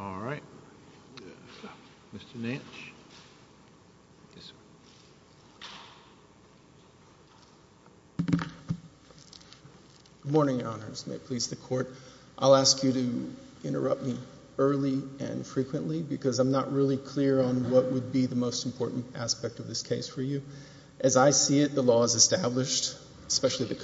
All right. Mr. Nance. Good morning, Your Honors. May it please the Court. I'll ask you to interrupt me early and frequently because I'm not really clear on what would be the most important aspect of this case for you. As I see it, the law is established, especially the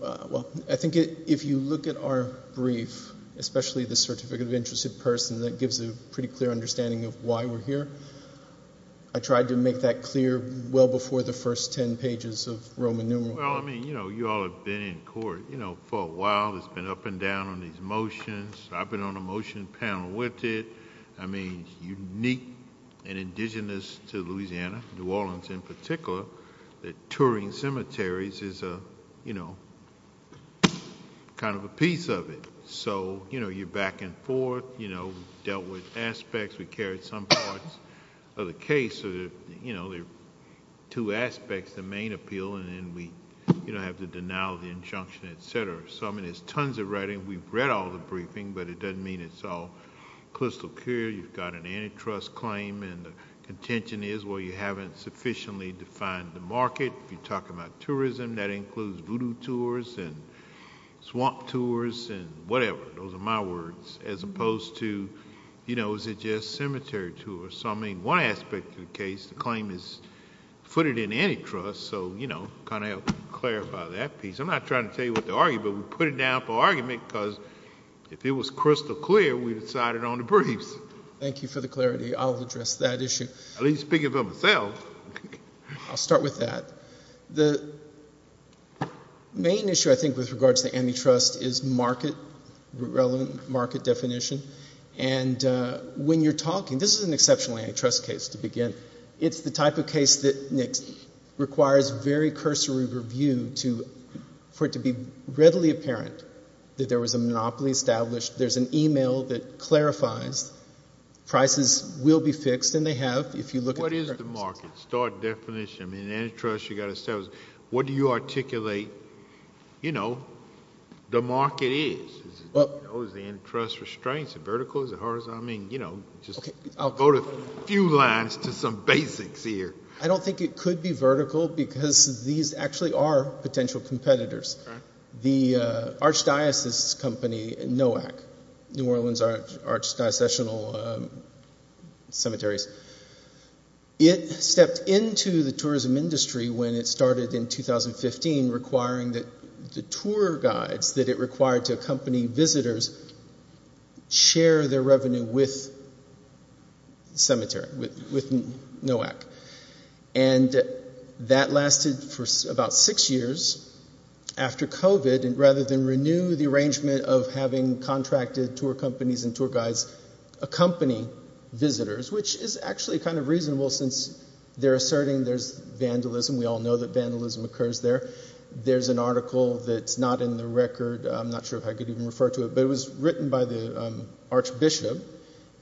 well, I think if you look at our brief, especially the certificate of interested person, that gives a pretty clear understanding of why we're here. I tried to make that clear well before the first ten pages of Roman numeral. Well, I mean, you know, you all have been in court, you know, for a while. It's been up and down on these motions. I've been on a motion panel with it. I mean, unique and indigenous to Louisiana, New Orleans in particular, that Turing Cemetery is a, you know, kind of a piece of it. So, you know, you're back and forth, you know, dealt with aspects. We carried some parts of the case. So, you know, there are two aspects, the main appeal, and then we, you know, have the denial of the injunction, etc. So, I mean, there's tons of writing. We've read all the briefing, but it doesn't mean it's all crystal clear. You've got an antitrust claim, and the contention is, well, you haven't sufficiently defined the market. If you're talking about tourism, that includes voodoo tours and swamp tours and whatever. Those are my words, as opposed to, you know, is it just cemetery tours? So, I mean, one aspect of the case, the claim is footed in antitrust. So, you know, kind of help clarify that piece. I'm not trying to tell you what to argue, but we put it down for argument because if it was crystal clear, we decided on the briefs. Thank you for the clarity. I'll address that issue. At least speaking for myself. I'll start with that. The main issue, I think, with regards to antitrust is market, relevant market definition, and when you're talking, this is an exceptional antitrust case to begin. It's the type of case that requires very cursory review to, for it to be readily apparent that there was a monopoly established. There's an email that clarifies prices will be fixed, and they have, if you look at... What is the market? Start definition. I mean, antitrust, you got to say, what do you articulate, you know, the market is? What was the antitrust restraints? Vertical? Horizontal? I mean, you know, just I'll go to a few lines to some basics here. I don't think it could be vertical because these actually are potential competitors. The archdiocese company, NOAC, New Orleans Archdiocese Cemeteries, it stepped into the tourism industry when it started in 2015, requiring that the tour guides that it required to accompany visitors share their revenue with the cemetery, with NOAC, and that lasted for about six years after COVID, and rather than renew the arrangement of having contracted tour companies and tour guides accompany visitors, which is actually kind of reasonable since they're asserting there's vandalism. We all know that vandalism occurs there. There's an article that's not in the record. I'm not sure if I could even refer to it, but it was written by the Archbishop,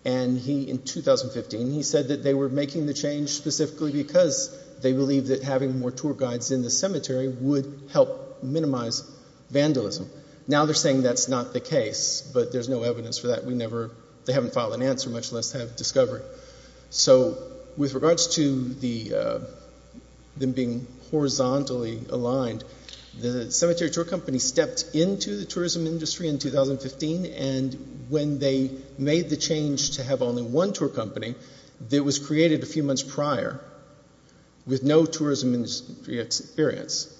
and he, in 2015, he said that they were making the change specifically because they believed that having more tour guides in the cemetery would help That's not the case, but there's no evidence for that. We never, they haven't filed an answer, much less have discovered. So with regards to them being horizontally aligned, the cemetery tour company stepped into the tourism industry in 2015, and when they made the change to have only one tour company, that was created a few months prior, with no tourism experience,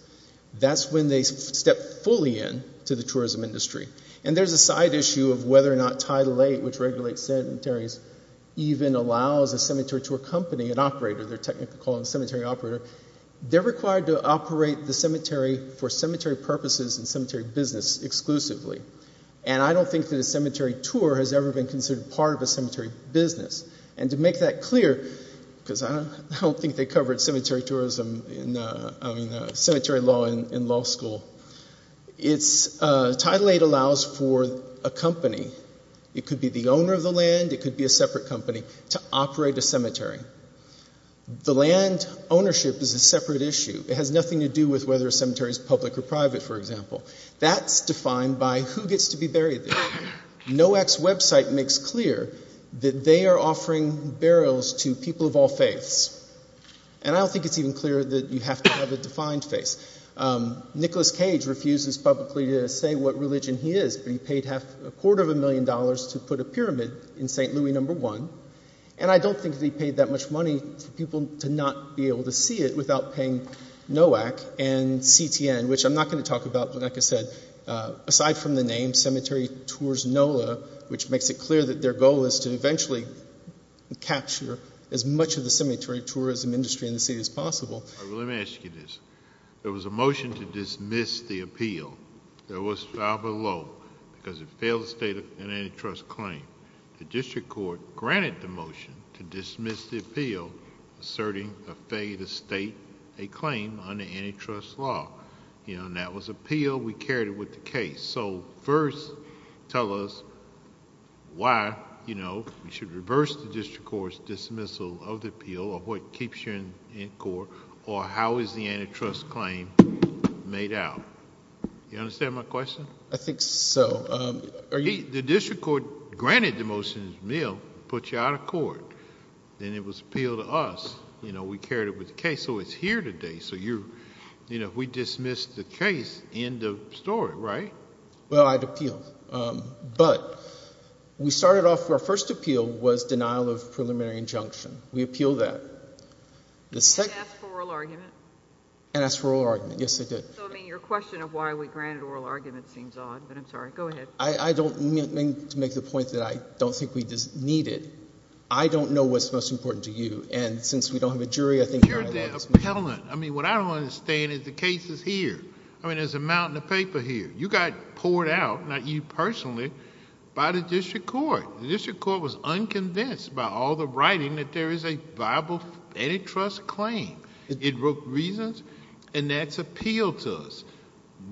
that's when they stepped fully in to the tourism industry, and there's a side issue of whether or not Title VIII, which regulates cemeteries, even allows a cemetery tour company, an operator, they're technically called a cemetery operator, they're required to operate the cemetery for cemetery purposes and cemetery business exclusively, and I don't think that a cemetery tour has ever been considered part of a cemetery business, and to make that clear, because I don't think they covered cemetery tourism in, I mean, cemetery law in law school, it's, Title VIII allows for a company, it could be the owner of the land, it could be a separate company, to operate a cemetery. The land ownership is a separate issue. It has nothing to do with whether a cemetery is public or private, for example. That's defined by who gets to be buried there. NOAC's website makes clear that they are offering burials to people of all faiths, and I think Nicholas Cage refuses publicly to say what religion he is, but he paid half, a quarter of a million dollars to put a pyramid in St. Louis No. 1, and I don't think that he paid that much money for people to not be able to see it without paying NOAC and CTN, which I'm not going to talk about, but like I said, aside from the name, Cemetery Tours NOLA, which makes it clear that their goal is to eventually capture as much of the cemetery tourism industry in the city as possible. Let me ask you this. There was a motion to dismiss the appeal that was filed below, because it failed to state an antitrust claim. The district court granted the motion to dismiss the appeal, asserting a failure to state a claim under antitrust law, and that was appealed. We carried it with the case. First, tell us why we should reverse the district court's dismissal of the appeal, of what keeps you in court, or how is the antitrust claim made out? You understand my question? I think so. The district court granted the motion, put you out of court, then it was appealed to us. We carried it with the case, so it's here today. We dismissed the case, end of story, right? Well, I'd appeal, but we started off, our first appeal was denial of the claim. Did you ask for oral argument? I asked for oral argument. Yes, I did. Your question of why we granted oral argument seems odd, but I'm sorry. Go ahead. I don't mean to make the point that I don't think we need it. I don't know what's most important to you, and since we don't have a jury, I think you're going to lose me. You're the appellant. What I don't understand is the case is here. There's a mountain of paper here. You got poured out, not you personally, by the district court. The district court was unconvinced by all the writing that there is a viable antitrust claim. It broke reasons, and that's appealed to us.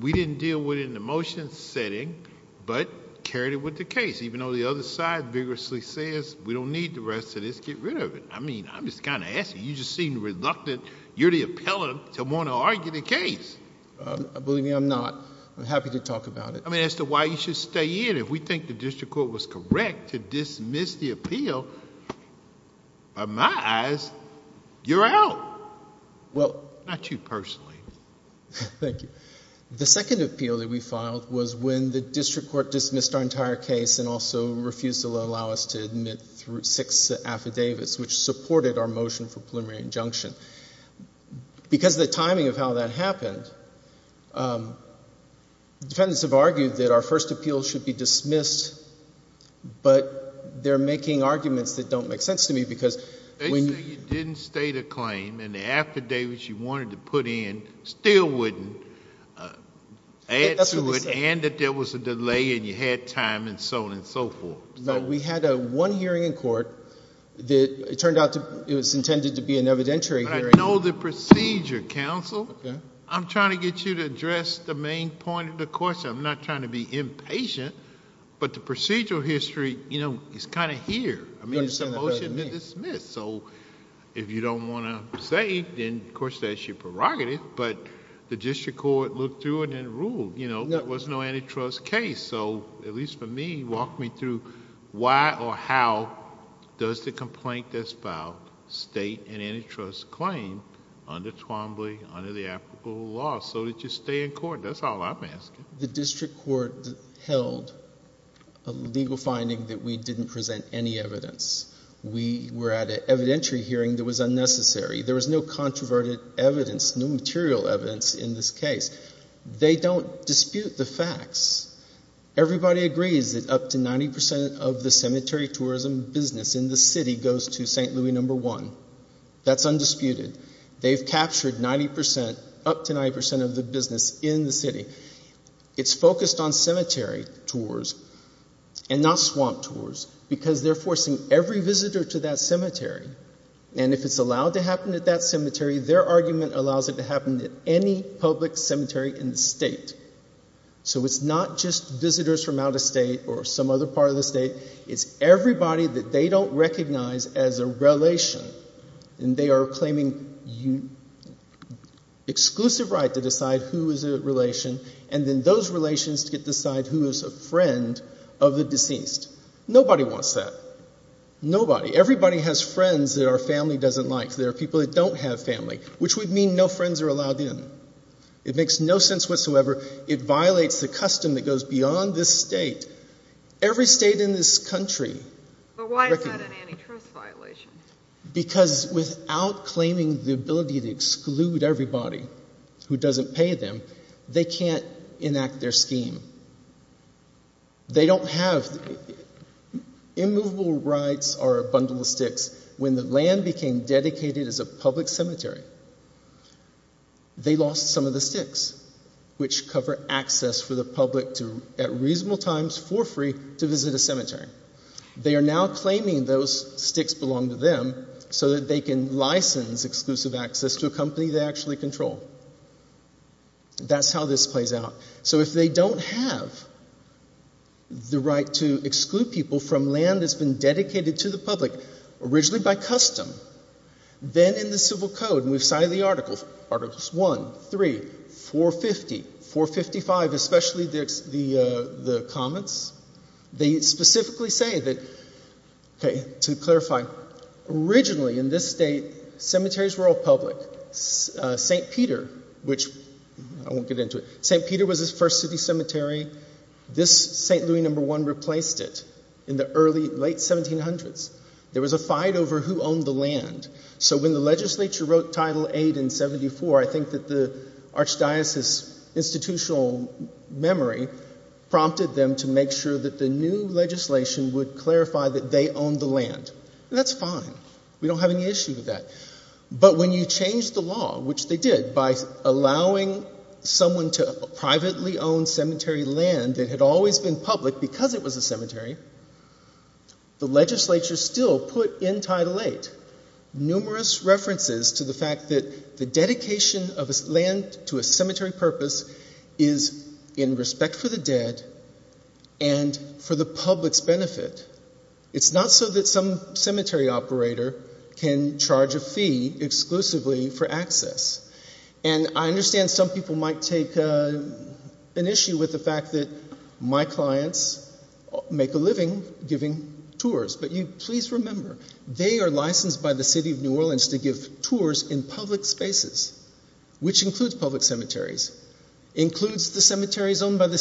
We didn't deal with it in the motion setting, but carried it with the case, even though the other side vigorously says, we don't need the rest of this. Get rid of it. I mean, I'm just kind of asking. You just seem reluctant. You're the appellant to want to argue the case. Believe me, I'm not. I'm happy to talk about it. I mean, as to why you should stay in, if we think the district court was correct to dismiss the appeal, by my eyes, you're out. Not you personally. The second appeal that we filed was when the district court dismissed our entire case and also refused to allow us to admit six affidavits, which supported our motion for preliminary injunction. Because of the timing of how that happened, the defendants have argued that our first appeal should be But they're making arguments that don't make sense to me, because when You say you didn't state a claim, and the affidavits you wanted to put in still wouldn't, and that there was a delay, and you had time, and so on and so forth. We had one hearing in court. It turned out it was intended to be an evidentiary hearing. I know the procedure, counsel. I'm trying to get you to address the main point of the question. I'm not trying to be impatient, but the procedural history is kind of here. I mean, it's a motion to dismiss, so if you don't want to say, then, of course, that's your prerogative, but the district court looked through it and ruled there was no antitrust case, so at least for me, walk me through why or how does the complaint that's filed state an antitrust claim under Twombly, under the applicable law, so that you stay in court. That's all I ask you. The district court held a legal finding that we didn't present any evidence. We were at an evidentiary hearing that was unnecessary. There was no controverted evidence, no material evidence in this case. They don't dispute the facts. Everybody agrees that up to 90% of the cemetery tourism business in the city goes to St. Louis No. 1. That's undisputed. They've captured 90%, up to 90% of the business in the city. It's focused on cemetery tours and not swamp tours, because they're forcing every visitor to that cemetery, and if it's allowed to happen at that cemetery, their argument allows it to happen at any public cemetery in the state, so it's not just visitors from out of state or some other part of the state. It's everybody that they don't recognize as a relation, and they are given exclusive right to decide who is a relation, and then those relations get to decide who is a friend of the deceased. Nobody wants that. Nobody. Everybody has friends that our family doesn't like. There are people that don't have family, which would mean no friends are allowed in. It makes no sense whatsoever. It violates the custom that goes beyond this state. Every state in this country... But why is that an antitrust violation? Because without claiming the ability to exclude everybody who doesn't pay them, they can't enact their scheme. They don't have... Immovable rights are a bundle of sticks. When the land became dedicated as a public cemetery, they lost some of the sticks, which cover access for the public at reasonable times for free to visit a cemetery. They are now claiming those sticks belong to them so that they can license exclusive access to a company they actually control. That's how this plays out. So if they don't have the right to exclude people from land that's been dedicated to the public originally by custom, then in the civil code, and we've cited the articles, articles 1, 3, 450, 455, especially the comments, they specifically say that, okay, to clarify, originally in this state, cemeteries were all public. St. Peter, which I won't get into it, St. Peter was his first city cemetery. This St. Louis No. 1 replaced it in the early, late 1700s. There was a fight over who owned the land. So when the legislature wrote Title 8 in 74, I think that the Archdiocese's institutional memory prompted them to make sure that the new legislation would clarify that they owned the land. That's fine. We don't have any issue with that. But when you change the law, which they did, by allowing someone to privately own cemetery land that had always been public because it was a cemetery, the legislature still put in Title 8 numerous references to the fact that the dedication of land to a cemetery purpose is in respect for the public's benefit. It's not so that some cemetery operator can charge a fee exclusively for access. And I understand some people might take an issue with the fact that my clients make a living giving tours, but you please remember, they are licensed by the City of New Orleans to give tours in public spaces, which includes public cemeteries, includes the cemeteries owned by the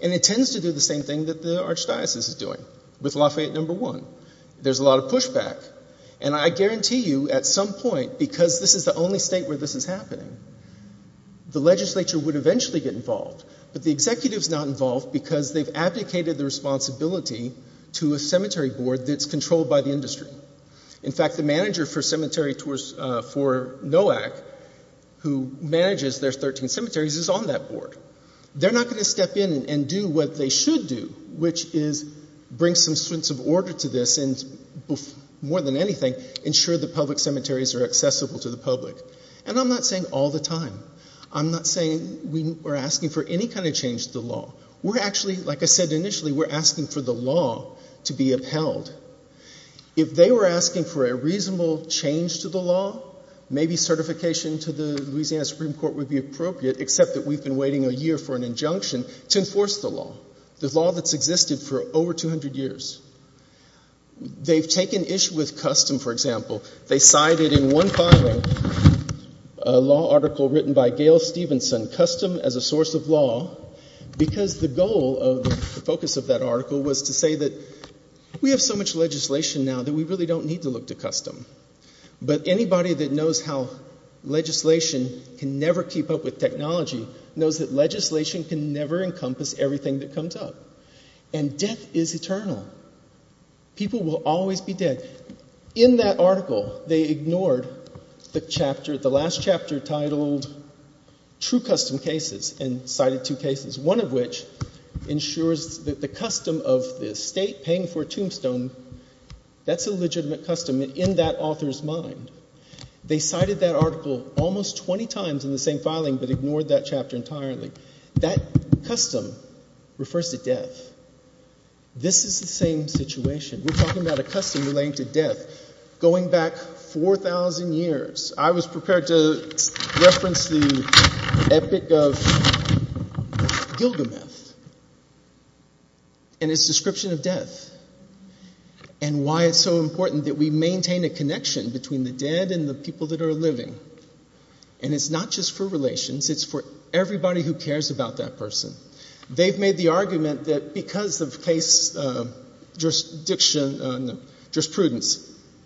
It tends to do the same thing that the Archdiocese is doing with Lafayette No. 1. There's a lot of pushback. And I guarantee you, at some point, because this is the only state where this is happening, the legislature would eventually get involved. But the executive's not involved because they've abdicated the responsibility to a cemetery board that's controlled by the industry. In fact, the manager for cemetery tours for NOAC, who manages their 13 cemeteries, is on that board. They're not going to step in and do what they should do, which is bring some sense of order to this and, more than anything, ensure the public cemeteries are accessible to the public. And I'm not saying all the time. I'm not saying we're asking for any kind of change to the law. We're actually, like I said initially, we're asking for the law to be upheld. If they were asking for a reasonable change to the law, maybe certification to the Louisiana Supreme Court would be appropriate, except that we've been waiting a year for an injunction to enforce the law, the law that's existed for over 200 years. They've taken issue with custom, for example. They cited in one filing a law article written by Gail Stevenson, Custom as a Source of Law, because the goal of the focus of that article was to say that we have so much legislation now that we really don't need to look to custom. But anybody that knows how legislation can never keep up with technology knows that legislation can never encompass everything that comes up. And death is eternal. People will always be dead. In that article, they ignored the chapter, the last chapter, titled True Custom Cases and cited two cases, one of which ensures that the custom of the state paying for a tombstone, that's a legitimate custom in that author's mind. They cited that article almost 20 times in the same filing but ignored that chapter entirely. That custom refers to death. This is the same situation. We're talking about a custom relating to death. Going back 4,000 years, I was prepared to reference the epic of Gilgameth and its description of death and why it's so important. It's for the dead and the people that are living. And it's not just for relations. It's for everybody who cares about that person. They've made the argument that because of case jurisprudence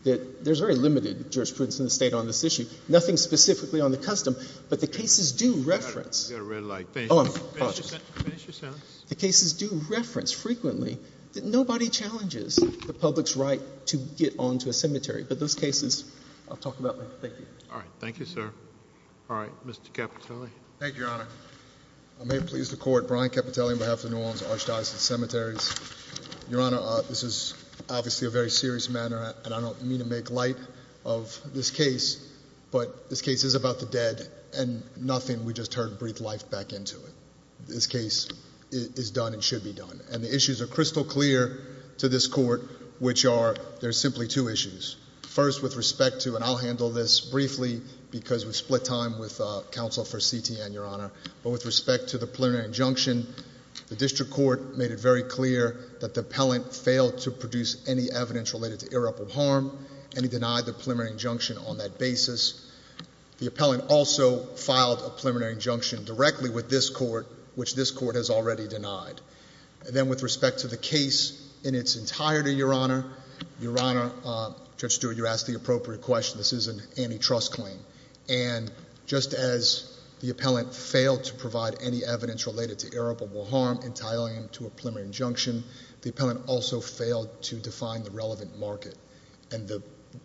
that there's very limited jurisprudence in the state on this issue, nothing specifically on the custom, but the cases do reference. The cases do reference frequently that nobody challenges the public's right to get on to a cemetery. But those cases, I'll talk about later. Thank you. All right. Thank you, sir. All right. Mr. Capitelli. Thank you, Your Honor. I may please the Court. Brian Capitelli on behalf of the New Orleans Archdiocese Cemeteries. Your Honor, this is obviously a very serious matter and I don't mean to make light of this case, but this case is about the dead and nothing, we just heard, breathed life back into it. This case is done and should be done. And the issues are crystal clear to this Court, which are there's simply two issues. First, with respect to, and I'll handle this briefly because we've split time with counsel for CTN, Your Honor, but with respect to the preliminary injunction, the district court made it very clear that the appellant failed to produce any evidence related to irreparable harm and he denied the preliminary injunction on that basis. The appellant also filed a preliminary injunction directly with this court, which this court has already denied. And then with respect to the case in its entirety, Your Honor, Your Honor, Judge Stewart, you asked the appropriate question. This is an antitrust claim. And just as the appellant failed to provide any evidence related to irreparable harm, entitling him to a preliminary injunction, the appellant also failed to define the relevant market. And the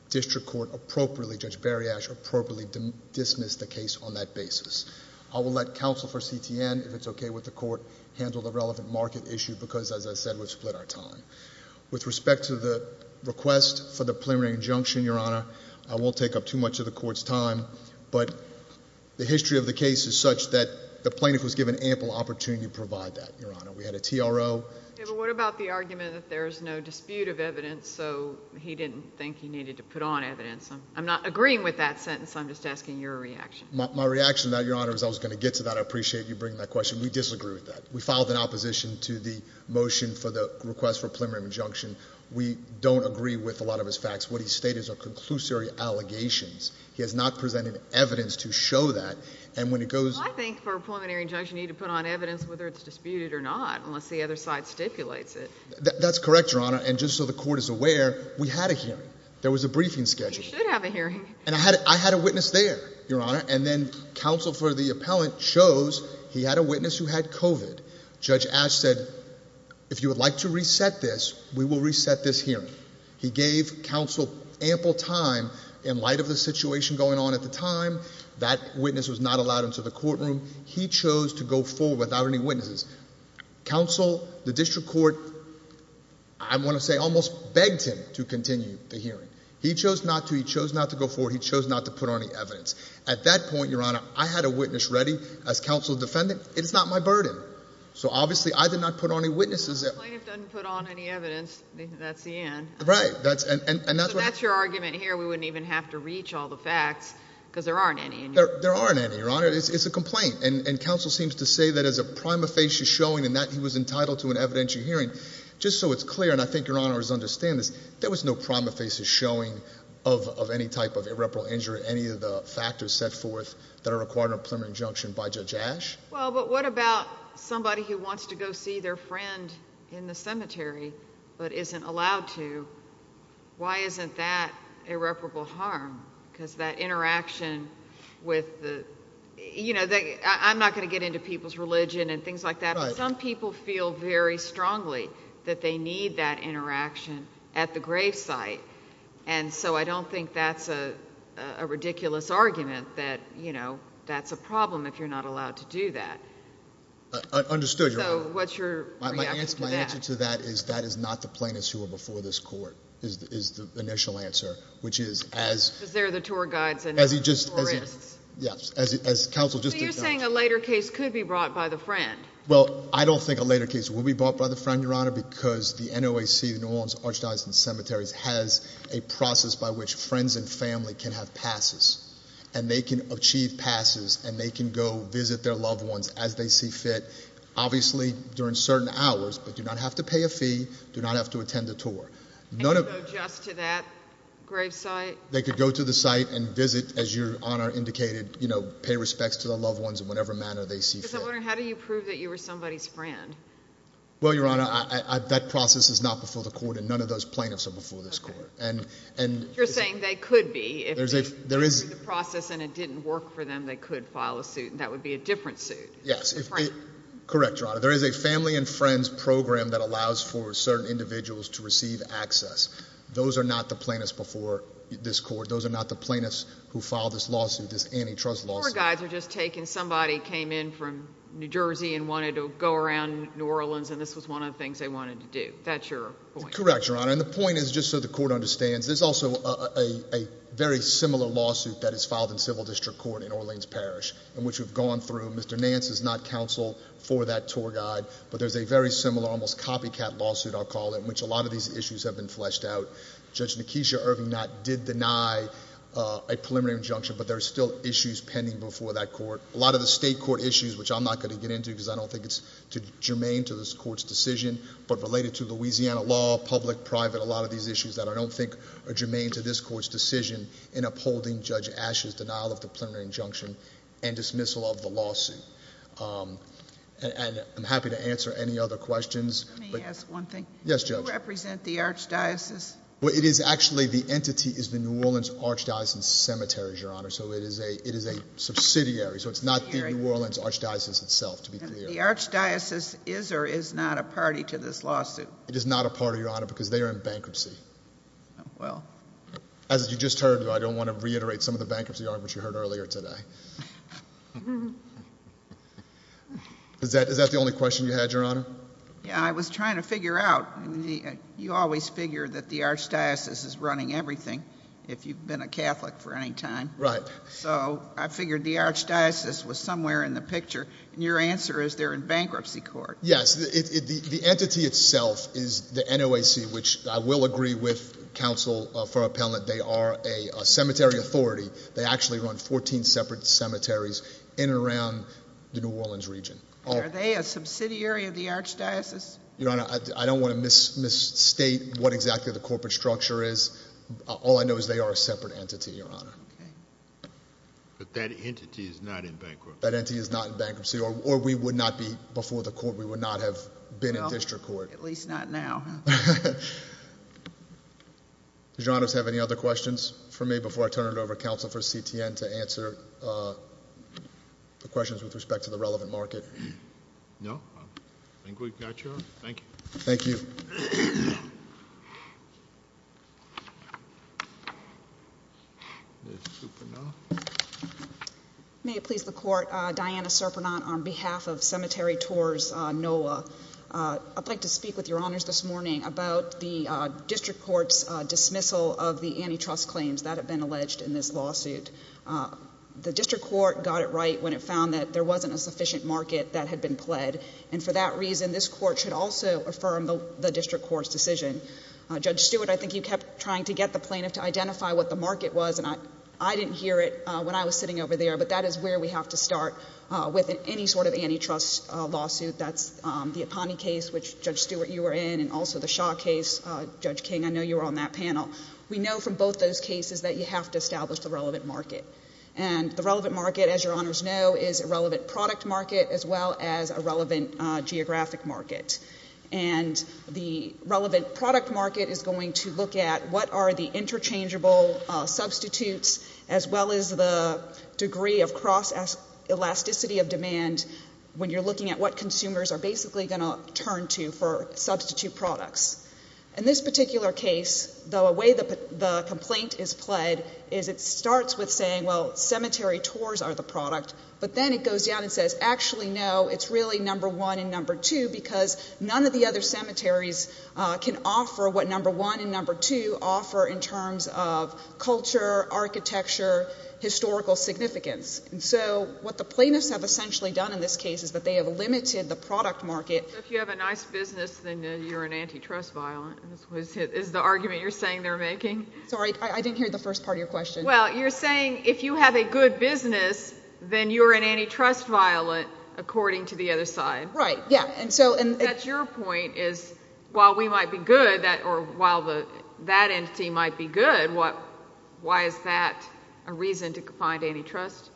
district court appropriately, Judge Bariash, appropriately dismissed the case on that relevant market issue because, as I said, we've split our time. With respect to the request for the preliminary injunction, Your Honor, I won't take up too much of the court's time, but the history of the case is such that the plaintiff was given ample opportunity to provide that. Your Honor, we had a TRO. Yeah, but what about the argument that there's no dispute of evidence, so he didn't think he needed to put on evidence? I'm not agreeing with that sentence. I'm just asking your reaction. My reaction to that, Your Honor, is I was going to get to that. I appreciate you bringing that question. We disagree with that. We filed an opposition to the motion for the request for preliminary injunction. We don't agree with a lot of his facts. What he stated is a conclusive allegations. He has not presented evidence to show that. And when it goes, I think for preliminary injunction, you need to put on evidence whether it's disputed or not, unless the other side stipulates it. That's correct, Your Honor. And just so the court is aware, we had a hearing. There was a briefing schedule. You should have a hearing. And I had I had a witness there, Your Honor. And then counsel for the appellant shows he had a witness who had COVID. Judge Ash said, if you would like to reset this, we will reset this hearing. He gave counsel ample time in light of the situation going on at the time. That witness was not allowed into the courtroom. He chose to go forward without any witnesses. Counsel, the district court, I want to say, almost begged him to continue the hearing. He chose not to. He chose not to go At that point, Your Honor, I had a witness ready as counsel defendant. It is not my burden. So obviously, I did not put on any witnesses. It doesn't put on any evidence. That's the end, right? That's and that's that's your argument here. We wouldn't even have to reach all the facts because there aren't any. There aren't any, Your Honor. It's a complaint. And counsel seems to say that as a prima facie showing and that he was entitled to an evidentiary hearing just so it's clear. And I think your honor is understand this. There was no prima facie showing of of any type of irreparable injury. Any of the factors set forth that are required a preliminary injunction by Judge Ash. Well, but what about somebody who wants to go see their friend in the cemetery but isn't allowed to? Why isn't that irreparable harm? Because that interaction with, you know, I'm not going to get into people's religion and things like that. Some people feel very strongly that they need that interaction at the grave site. And so I don't think that's a ridiculous argument that, you know, that's a problem if you're not allowed to do that. Understood. So what's your answer to that? Is that is not the plaintiffs who were before this court is the initial answer, which is as there the tour guides and as he just, yes, as counsel just saying a later case could be brought by the friend. Well, I don't think a later case will be bought by the friend, Your Honor, because the N. O. A. C. Norms Archdiocesan cemeteries has a process by which friends and family can have passes and they can achieve passes and they can go visit their loved ones as they see fit, obviously during certain hours, but do not have to pay a fee. Do not have to attend the tour. None of just to that grave site. They could go to the site and visit as your honor indicated, you know, pay respects to the loved ones in whatever manner they see. How do you prove that you were somebody's friend? Well, Your Honor, that process is not before the court and none of those plaintiffs are before this court and you're saying they could be if there is the process and it didn't work for them, they could file a suit and that would be a different suit. Yes, correct, Your Honor. There is a family and friends program that allows for certain individuals to receive access. Those are not the plaintiffs before this court. Those are not the plaintiffs who filed this lawsuit. This antitrust laws are just taking somebody came in from New Jersey and wanted to go around New Orleans and this was one of the things they wanted to do. That's your correct, Your Honor. And the point is just so the court understands. There's also a very similar lawsuit that is filed in civil district court in Orleans Parish and which we've gone through. Mr Nance is not counsel for that tour guide, but there's a very similar, almost copycat lawsuit. I'll call it which a lot of these issues have been fleshed out. Judge Nikesha Irving not did deny a preliminary injunction, but there's still issues pending before that court. A lot of the state court issues, which I'm not going to get into because I don't think it's germane to this court's decision, but related to Louisiana law, public, private, a lot of these issues that I don't think are germane to this court's decision in upholding Judge Ashes denial of the preliminary injunction and dismissal of the lawsuit. Um, and I'm happy to answer any other questions. Let me ask one thing. Yes, judge. Represent the archdiocese. It is actually the entity is the New Orleans archdiocese cemeteries, Your Honor. So it is a it is a subsidiary. So it's not the New Orleans archdiocese itself. To the archdiocese is or is not a party to this lawsuit. It is not a part of your honor because they're in bankruptcy. Well, as you just heard, I don't want to reiterate some of the bankruptcy arguments you heard earlier today. Is that is that the only question you had, Your Honor? Yeah, I was trying to figure out. You always figure that the archdiocese is running everything. If you've been a Catholic for any time, right? So I figured the archdiocese was somewhere in the picture. And your answer is they're in bankruptcy court. Yes, the entity itself is the N. O. A. C. Which I will agree with Council for appellant. They are a cemetery authority. They actually run 14 separate cemeteries in and around the New Orleans region. Are they a subsidiary of the archdiocese? Your Honor, I don't want to miss miss state what exactly the corporate structure is. All I know is they are a separate entity, Your identity is not in bankruptcy or or we would not be before the court. We would not have been in district court, at least not now. Your Honor's have any other questions for me before I turn it over? Council for C. T. N. To answer, uh, the questions with respect to the relevant market. No, I think we've got you. Thank you. Thank you. Mhm. Super. No. May it please the court. Diana Serpentine on behalf of Cemetery Tours Noah. Uh, I'd like to speak with your honors this morning about the district court's dismissal of the antitrust claims that have been alleged in this lawsuit. Uh, the district court got it right when it found that there wasn't a sufficient market that had been pled. And for that reason, this court should also affirm the district court's decision. Judge Stewart, I think you kept trying to get the plaintiff to identify what the market was. And I didn't hear it when I was sitting over there. But that is where we have to start with any sort of antitrust lawsuit. That's the upon the case, which Judge Stewart, you were in and also the shock case. Judge King, I know you were on that panel. We know from both those cases that you have to establish the relevant market and the relevant market, as your honors know, is a relevant product market as well as a relevant geographic market. And the relevant product market is going to look at what are the interchangeable substitutes as well as the degree of cross elasticity of demand when you're looking at what consumers are basically going to turn to for substitute products. In this particular case, the way that the complaint is pled is it then it goes down and says, Actually, no, it's really number one and number two, because none of the other cemeteries can offer what number one and number two offer in terms of culture, architecture, historical significance. So what the plaintiffs have essentially done in this case is that they have limited the product market. If you have a nice business, then you're an antitrust violent. Is the argument you're saying they're making? Sorry, I didn't hear the first part of your question. Well, you're a good business, then you're an antitrust violent, according to the other side, right? Yeah. And so that's your point is while we might be good that or while the that entity might be good. What? Why is that a reason to find antitrust?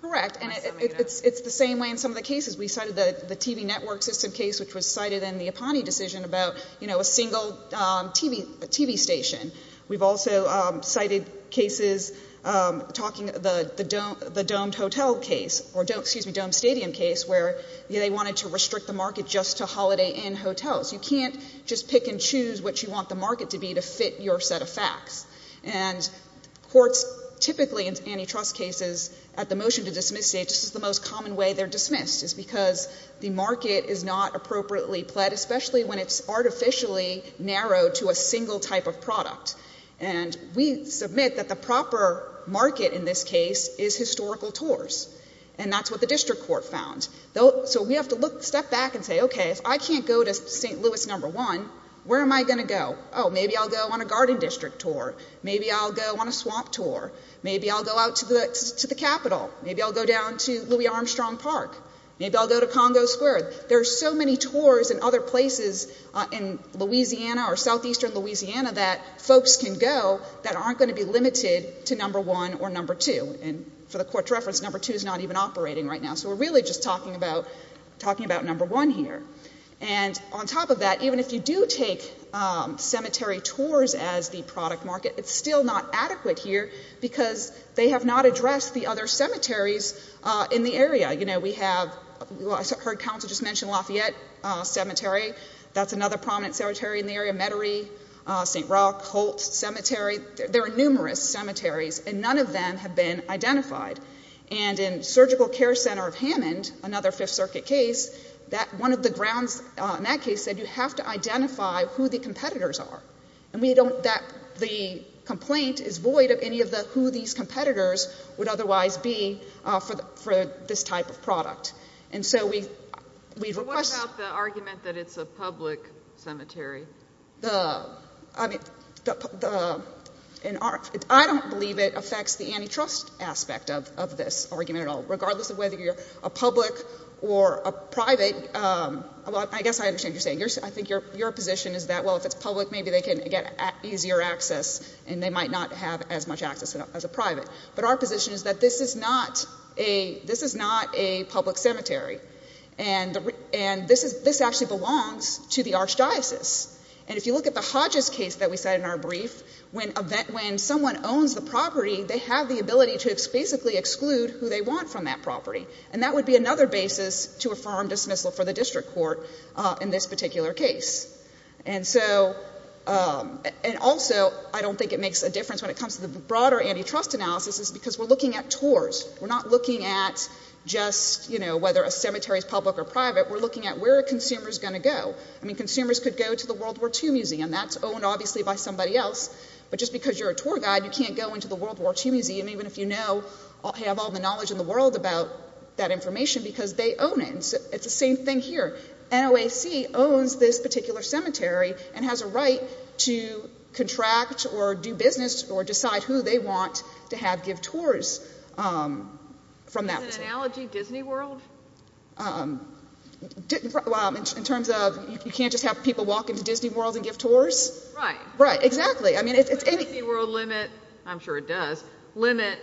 Correct. And it's the same way. In some of the cases, we cited the TV network system case, which was cited in the Aponte decision about, you know, a single TV TV station. We've also cited cases talking the the dome the domed hotel case or don't excuse me, dome stadium case where they wanted to restrict the market just to holiday in hotels. You can't just pick and choose what you want the market to be to fit your set of facts. And courts typically antitrust cases at the motion to dismiss state. This is the most common way they're dismissed is because the market is not appropriately pled, especially when it's artificially narrowed to a case is historical tours, and that's what the district court found. So we have to look, step back and say, Okay, if I can't go to ST Louis number one, where am I gonna go? Oh, maybe I'll go on a garden district tour. Maybe I'll go on a swamp tour. Maybe I'll go out to the to the capital. Maybe I'll go down to Louis Armstrong Park. Maybe I'll go to Congo Square. There's so many tours and other places in Louisiana or southeastern Louisiana that folks can go that aren't going to be limited to number one or number two. And for the court's reference, number two is not even operating right now. So we're really just talking about talking about number one here. And on top of that, even if you do take cemetery tours as the product market, it's still not adequate here because they have not addressed the other cemeteries in the area. You know, we have heard council just mentioned Lafayette Cemetery. That's another prominent cemetery in the area. Metairie ST Rock Holt Cemetery. There are numerous cemeteries, and none of them have been identified. And in Surgical Care Center of Hammond, another Fifth Circuit case that one of the grounds in that case said you have to identify who the competitors are, and we don't that the complaint is void of any of the who these competitors would otherwise be for for this type of product. And so we request the argument that it's a public cemetery. I mean, in our I don't believe it affects the antitrust aspect of this argument at all, regardless of whether you're a public or a private. Well, I guess I understand you're saying you're I think you're your position is that well, if it's public, maybe they can get easier access and they might not have as much access as a private. But our position is that this is not a this is not a and and this is this actually belongs to the archdiocese. And if you look at the Hodges case that we said in our brief, when event when someone owns the property, they have the ability to basically exclude who they want from that property. And that would be another basis to affirm dismissal for the district court in this particular case. And so on. And also, I don't think it makes a difference when it comes to the broader antitrust analysis is because we're looking at tours. We're not looking at just, you know, whether a cemeteries public or private, we're looking at where consumers gonna go. I mean, consumers could go to the World War Two Museum that's owned, obviously, by somebody else. But just because you're a tour guide, you can't go into the World War Two Museum, even if you know, have all the knowledge in the world about that information because they own it. It's the same thing here. No AC owns this particular cemetery and has a right to contract or do business or decide who they want to have give tours. Um, from that analogy, Disney World. Um, in terms of you can't just have people walk into Disney World and give tours. Right, right. Exactly. I mean, it's a world limit. I'm sure it does limit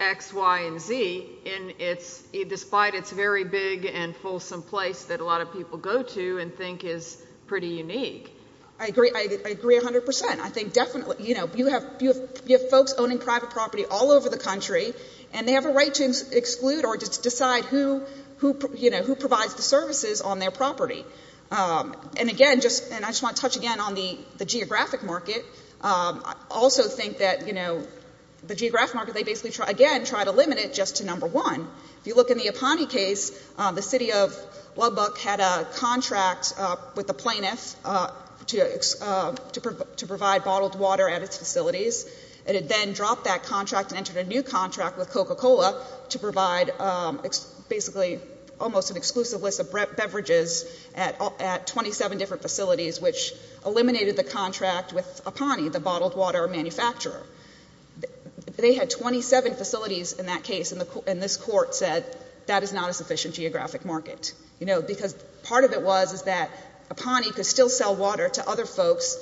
X, Y and Z. And it's despite it's very big and fulsome place that a lot of people go to and think is pretty unique. I agree. I agree 100%. I think definitely, you know, you have folks owning private property all over the country and they have a right to exclude or just decide who, you know, who provides the services on their property. Um, and again, just and I just want to touch again on the geographic market. Um, I also think that, you know, the geographic market, they basically again try to limit it just to number one. If you look in the Aponte case, the city of Lubbock had a contract with the water at its facilities. It had then dropped that contract and entered a new contract with Coca Cola to provide basically almost an exclusive list of beverages at at 27 different facilities, which eliminated the contract with Aponte, the bottled water manufacturer. They had 27 facilities in that case, and this court said that is not a sufficient geographic market, you know, because part of it was is that Aponte could still sell water to other folks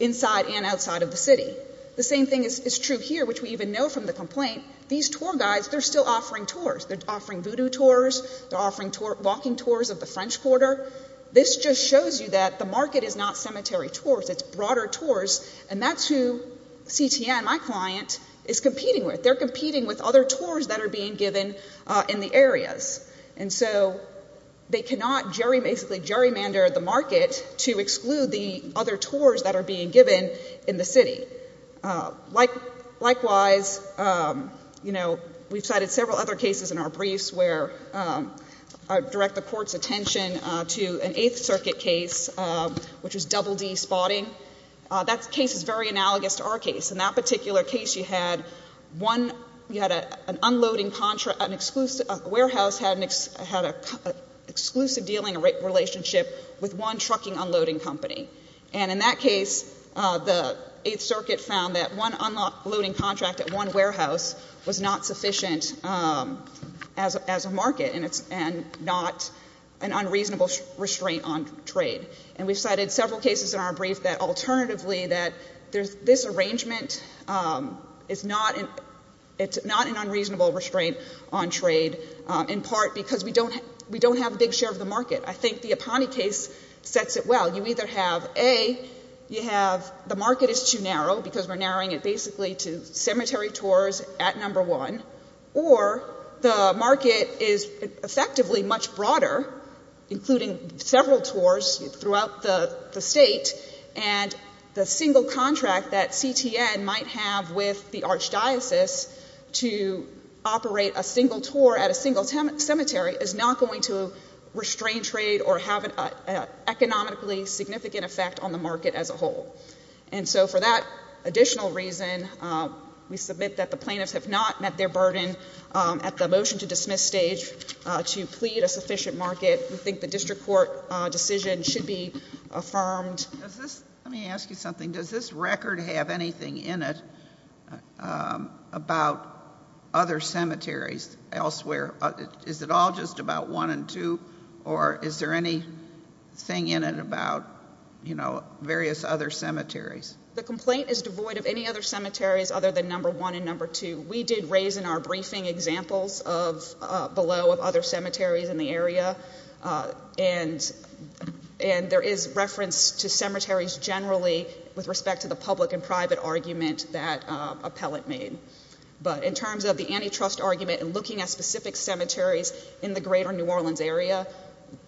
inside and outside of the city. The same thing is true here, which we even know from the complaint. These tour guides, they're still offering tours. They're offering voodoo tours. They're offering tour walking tours of the French quarter. This just shows you that the market is not cemetery tours. It's broader tours, and that's who CTN, my client, is competing with. They're competing with other tours that are being given in the areas, and so they cannot basically gerrymander the market to exclude the other tours that are being given in the city. Likewise, you know, we've cited several other cases in our briefs where I direct the court's attention to an Eighth Circuit case, which was Double D spotting. That case is very analogous to our case. In that particular case, you had one, you had an unloading contract, an exclusive warehouse had an exclusive dealing relationship with one trucking unloading company. And in that case, the Eighth Circuit found that one unloading contract at one warehouse was not sufficient as a market, and not an unreasonable restraint on trade. And we've cited several cases in our brief that alternatively that this arrangement is not an unreasonable restraint on trade, in part because we don't have a big share of the market. I think the answer would have A, you have the market is too narrow because we're narrowing it basically to cemetery tours at number one, or the market is effectively much broader, including several tours throughout the state, and the single contract that CTN might have with the archdiocese to operate a single tour at a single cemetery is not going to restrain trade or have an economically significant effect on the market as a whole. And so for that additional reason, we submit that the plaintiffs have not met their burden at the motion to dismiss stage to plead a sufficient market. We think the district court decision should be affirmed. Let me ask you something. Does this record have anything in it about other cemeteries elsewhere? Is it all just about one and about, you know, various other cemeteries? The complaint is devoid of any other cemeteries other than number one and number two. We did raise in our briefing examples of below of other cemeteries in the area. And and there is reference to cemeteries generally with respect to the public and private argument that appellate made. But in terms of the antitrust argument and looking at specific cemeteries in the greater New Orleans area,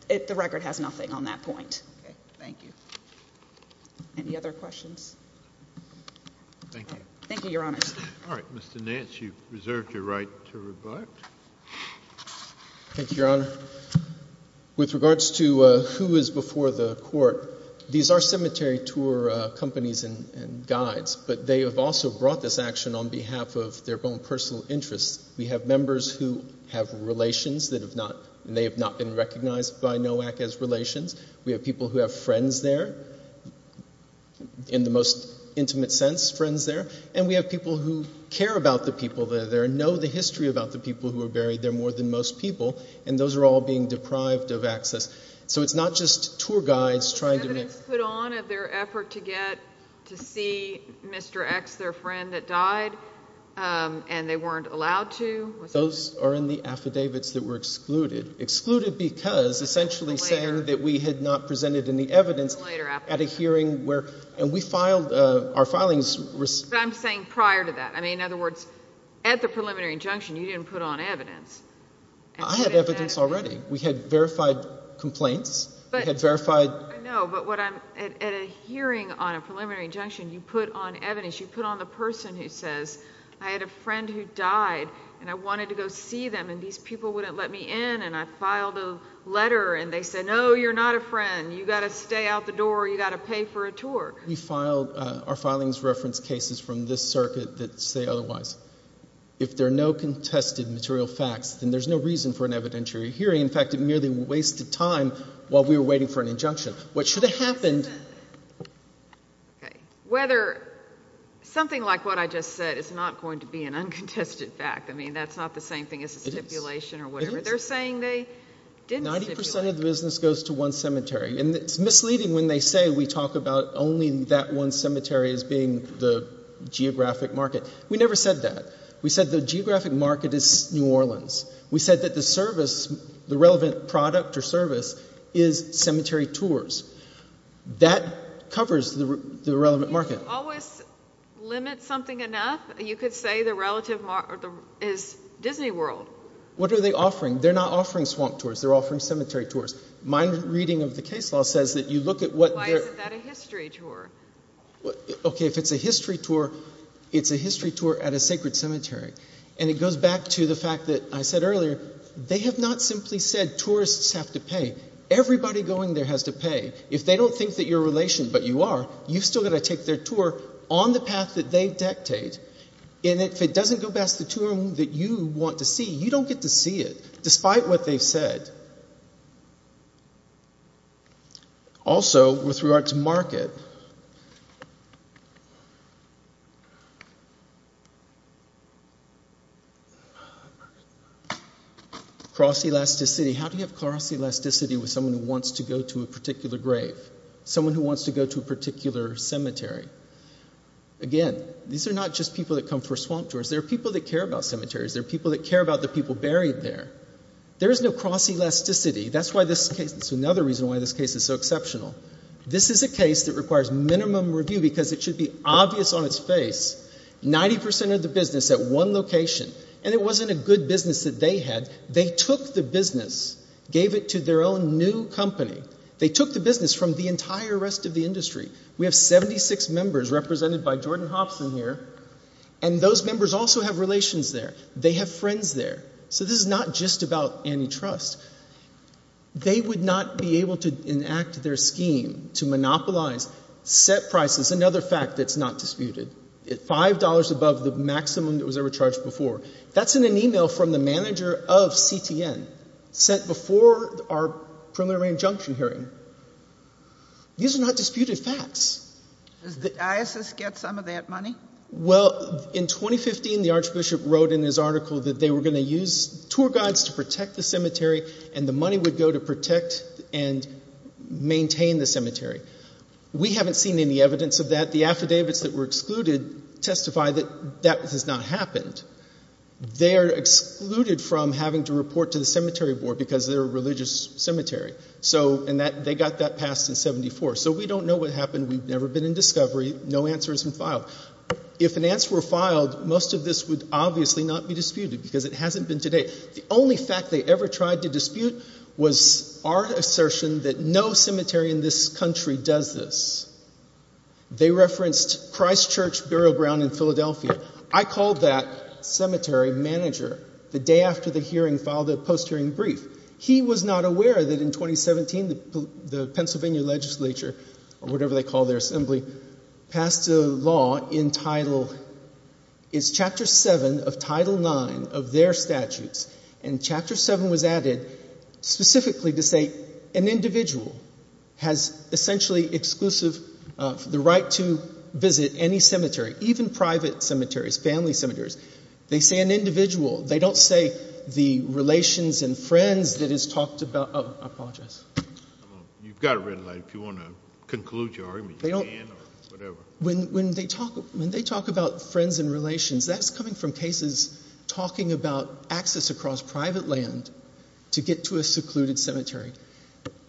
the record has nothing on that point. Thank you. Any other questions? Thank you, Your Honor. All right, Mr. Nance, you reserved your right to rebut. Thank you, Your Honor. With regards to who is before the court, these are cemetery tour companies and guides, but they have also brought this action on behalf of their own personal interests. We have members who have relations that have not and they have not been recognized by NOAC as relations. We have people who have friends there in the most intimate sense, friends there. And we have people who care about the people that are there and know the history about the people who are buried there more than most people. And those are all being deprived of access. So it's not just tour guides trying to put on their effort to get to see Mr. X, their friend that died. Um, and they weren't allowed to. Those are in the because essentially saying that we had not presented any evidence at a hearing where and we filed our filings. I'm saying prior to that. I mean, in other words, at the preliminary injunction, you didn't put on evidence. I had evidence already. We had verified complaints that had verified. No, but what I'm at a hearing on a preliminary injunction you put on evidence you put on the person who says I had a friend who died and I wanted to go see them and these people wouldn't let me in. And I filed a letter and they said, No, you're not a friend. You've got to stay out the door. You've got to pay for a tour. We filed our filings reference cases from this circuit that say otherwise. If there are no contested material facts, then there's no reason for an evidentiary hearing. In fact, it merely wasted time while we were waiting for an injunction. What should have happened? Okay. Whether something like what I just said is not going to be an elation or whatever. They're saying they did. 90% of the business goes to one cemetery, and it's misleading when they say we talk about only that one cemetery is being the geographic market. We never said that. We said the geographic market is New Orleans. We said that the service, the relevant product or service is cemetery tours. That covers the relevant market. Always limit something enough. You could say the relative is Disney World. What are they offering? They're not offering swamp tours. They're offering cemetery tours. My reading of the case law says that you look at what? Why is that a history tour? Okay, if it's a history tour, it's a history tour at a sacred cemetery. And it goes back to the fact that I said earlier, they have not simply said tourists have to pay. Everybody going there has to pay. If they don't think that your relation, but you are, you've still got to take their tour on the path that they dictate. And if it doesn't go past the tour that you want to see, you don't get to see it despite what they've said. Also, with regard to market, cross elasticity, how do you have cross elasticity with someone who wants to go to a particular grave? Someone who wants to go to a particular cemetery? Again, these are not just people that come for swamp tours. There are people that care about cemeteries. There are people that care about the people buried there. There is no cross elasticity. That's why this case, that's another reason why this case is so exceptional. This is a case that requires minimum review because it should be obvious on its face. 90% of the business at one location, and it wasn't a good business that they had. They took the business, gave it to their own new company. They took the business from the industry. We have 76 members represented by Jordan Hobson here, and those members also have relations there. They have friends there. So this is not just about antitrust. They would not be able to enact their scheme to monopolize set prices, another fact that's not disputed, at five dollars above the maximum that was ever charged before. That's in an email from the manager of CTN, sent before our preliminary injunction hearing. These are not disputed facts. Does the diocese get some of that money? Well, in 2015, the Archbishop wrote in his article that they were going to use tour guides to protect the cemetery, and the money would go to protect and maintain the cemetery. We haven't seen any evidence of that. The affidavits that were excluded testify that that has not been a religious cemetery. So, and that, they got that passed in 74. So we don't know what happened. We've never been in discovery. No answer has been filed. If an answer were filed, most of this would obviously not be disputed because it hasn't been today. The only fact they ever tried to dispute was our assertion that no cemetery in this country does this. They referenced Christ Church burial ground in Philadelphia. I called that cemetery manager the day after the post-hearing brief. He was not aware that in 2017, the Pennsylvania Legislature, or whatever they call their assembly, passed a law entitled, it's Chapter 7 of Title 9 of their statutes, and Chapter 7 was added specifically to say an individual has essentially exclusive the right to visit any cemetery, even private cemeteries, family cemeteries. They say an individual. They don't say the relations and friends that is talked about. Oh, I apologize. You've got a red light if you want to conclude your argument. They don't, when when they talk, when they talk about friends and relations, that's coming from cases talking about access across private land to get to a secluded cemetery.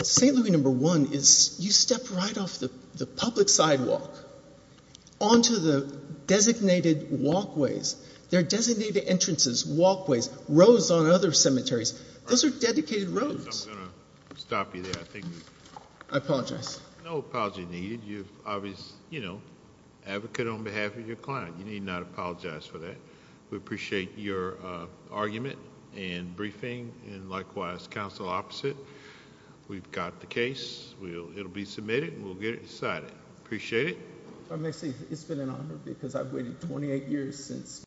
St. Louis number one is you step right off the public sidewalk onto the designated walkways. There are designated entrances, walkways, roads on other cemeteries. Those are dedicated roads. I'm going to stop you there. I apologize. No apology needed. You've obviously, you know, advocate on behalf of your client. You need not apologize for that. We appreciate your argument and briefing and likewise counsel opposite. We've got the case. It'll be submitted. We'll get it appreciate it. I may say it's been an honor because I've waited 28 years since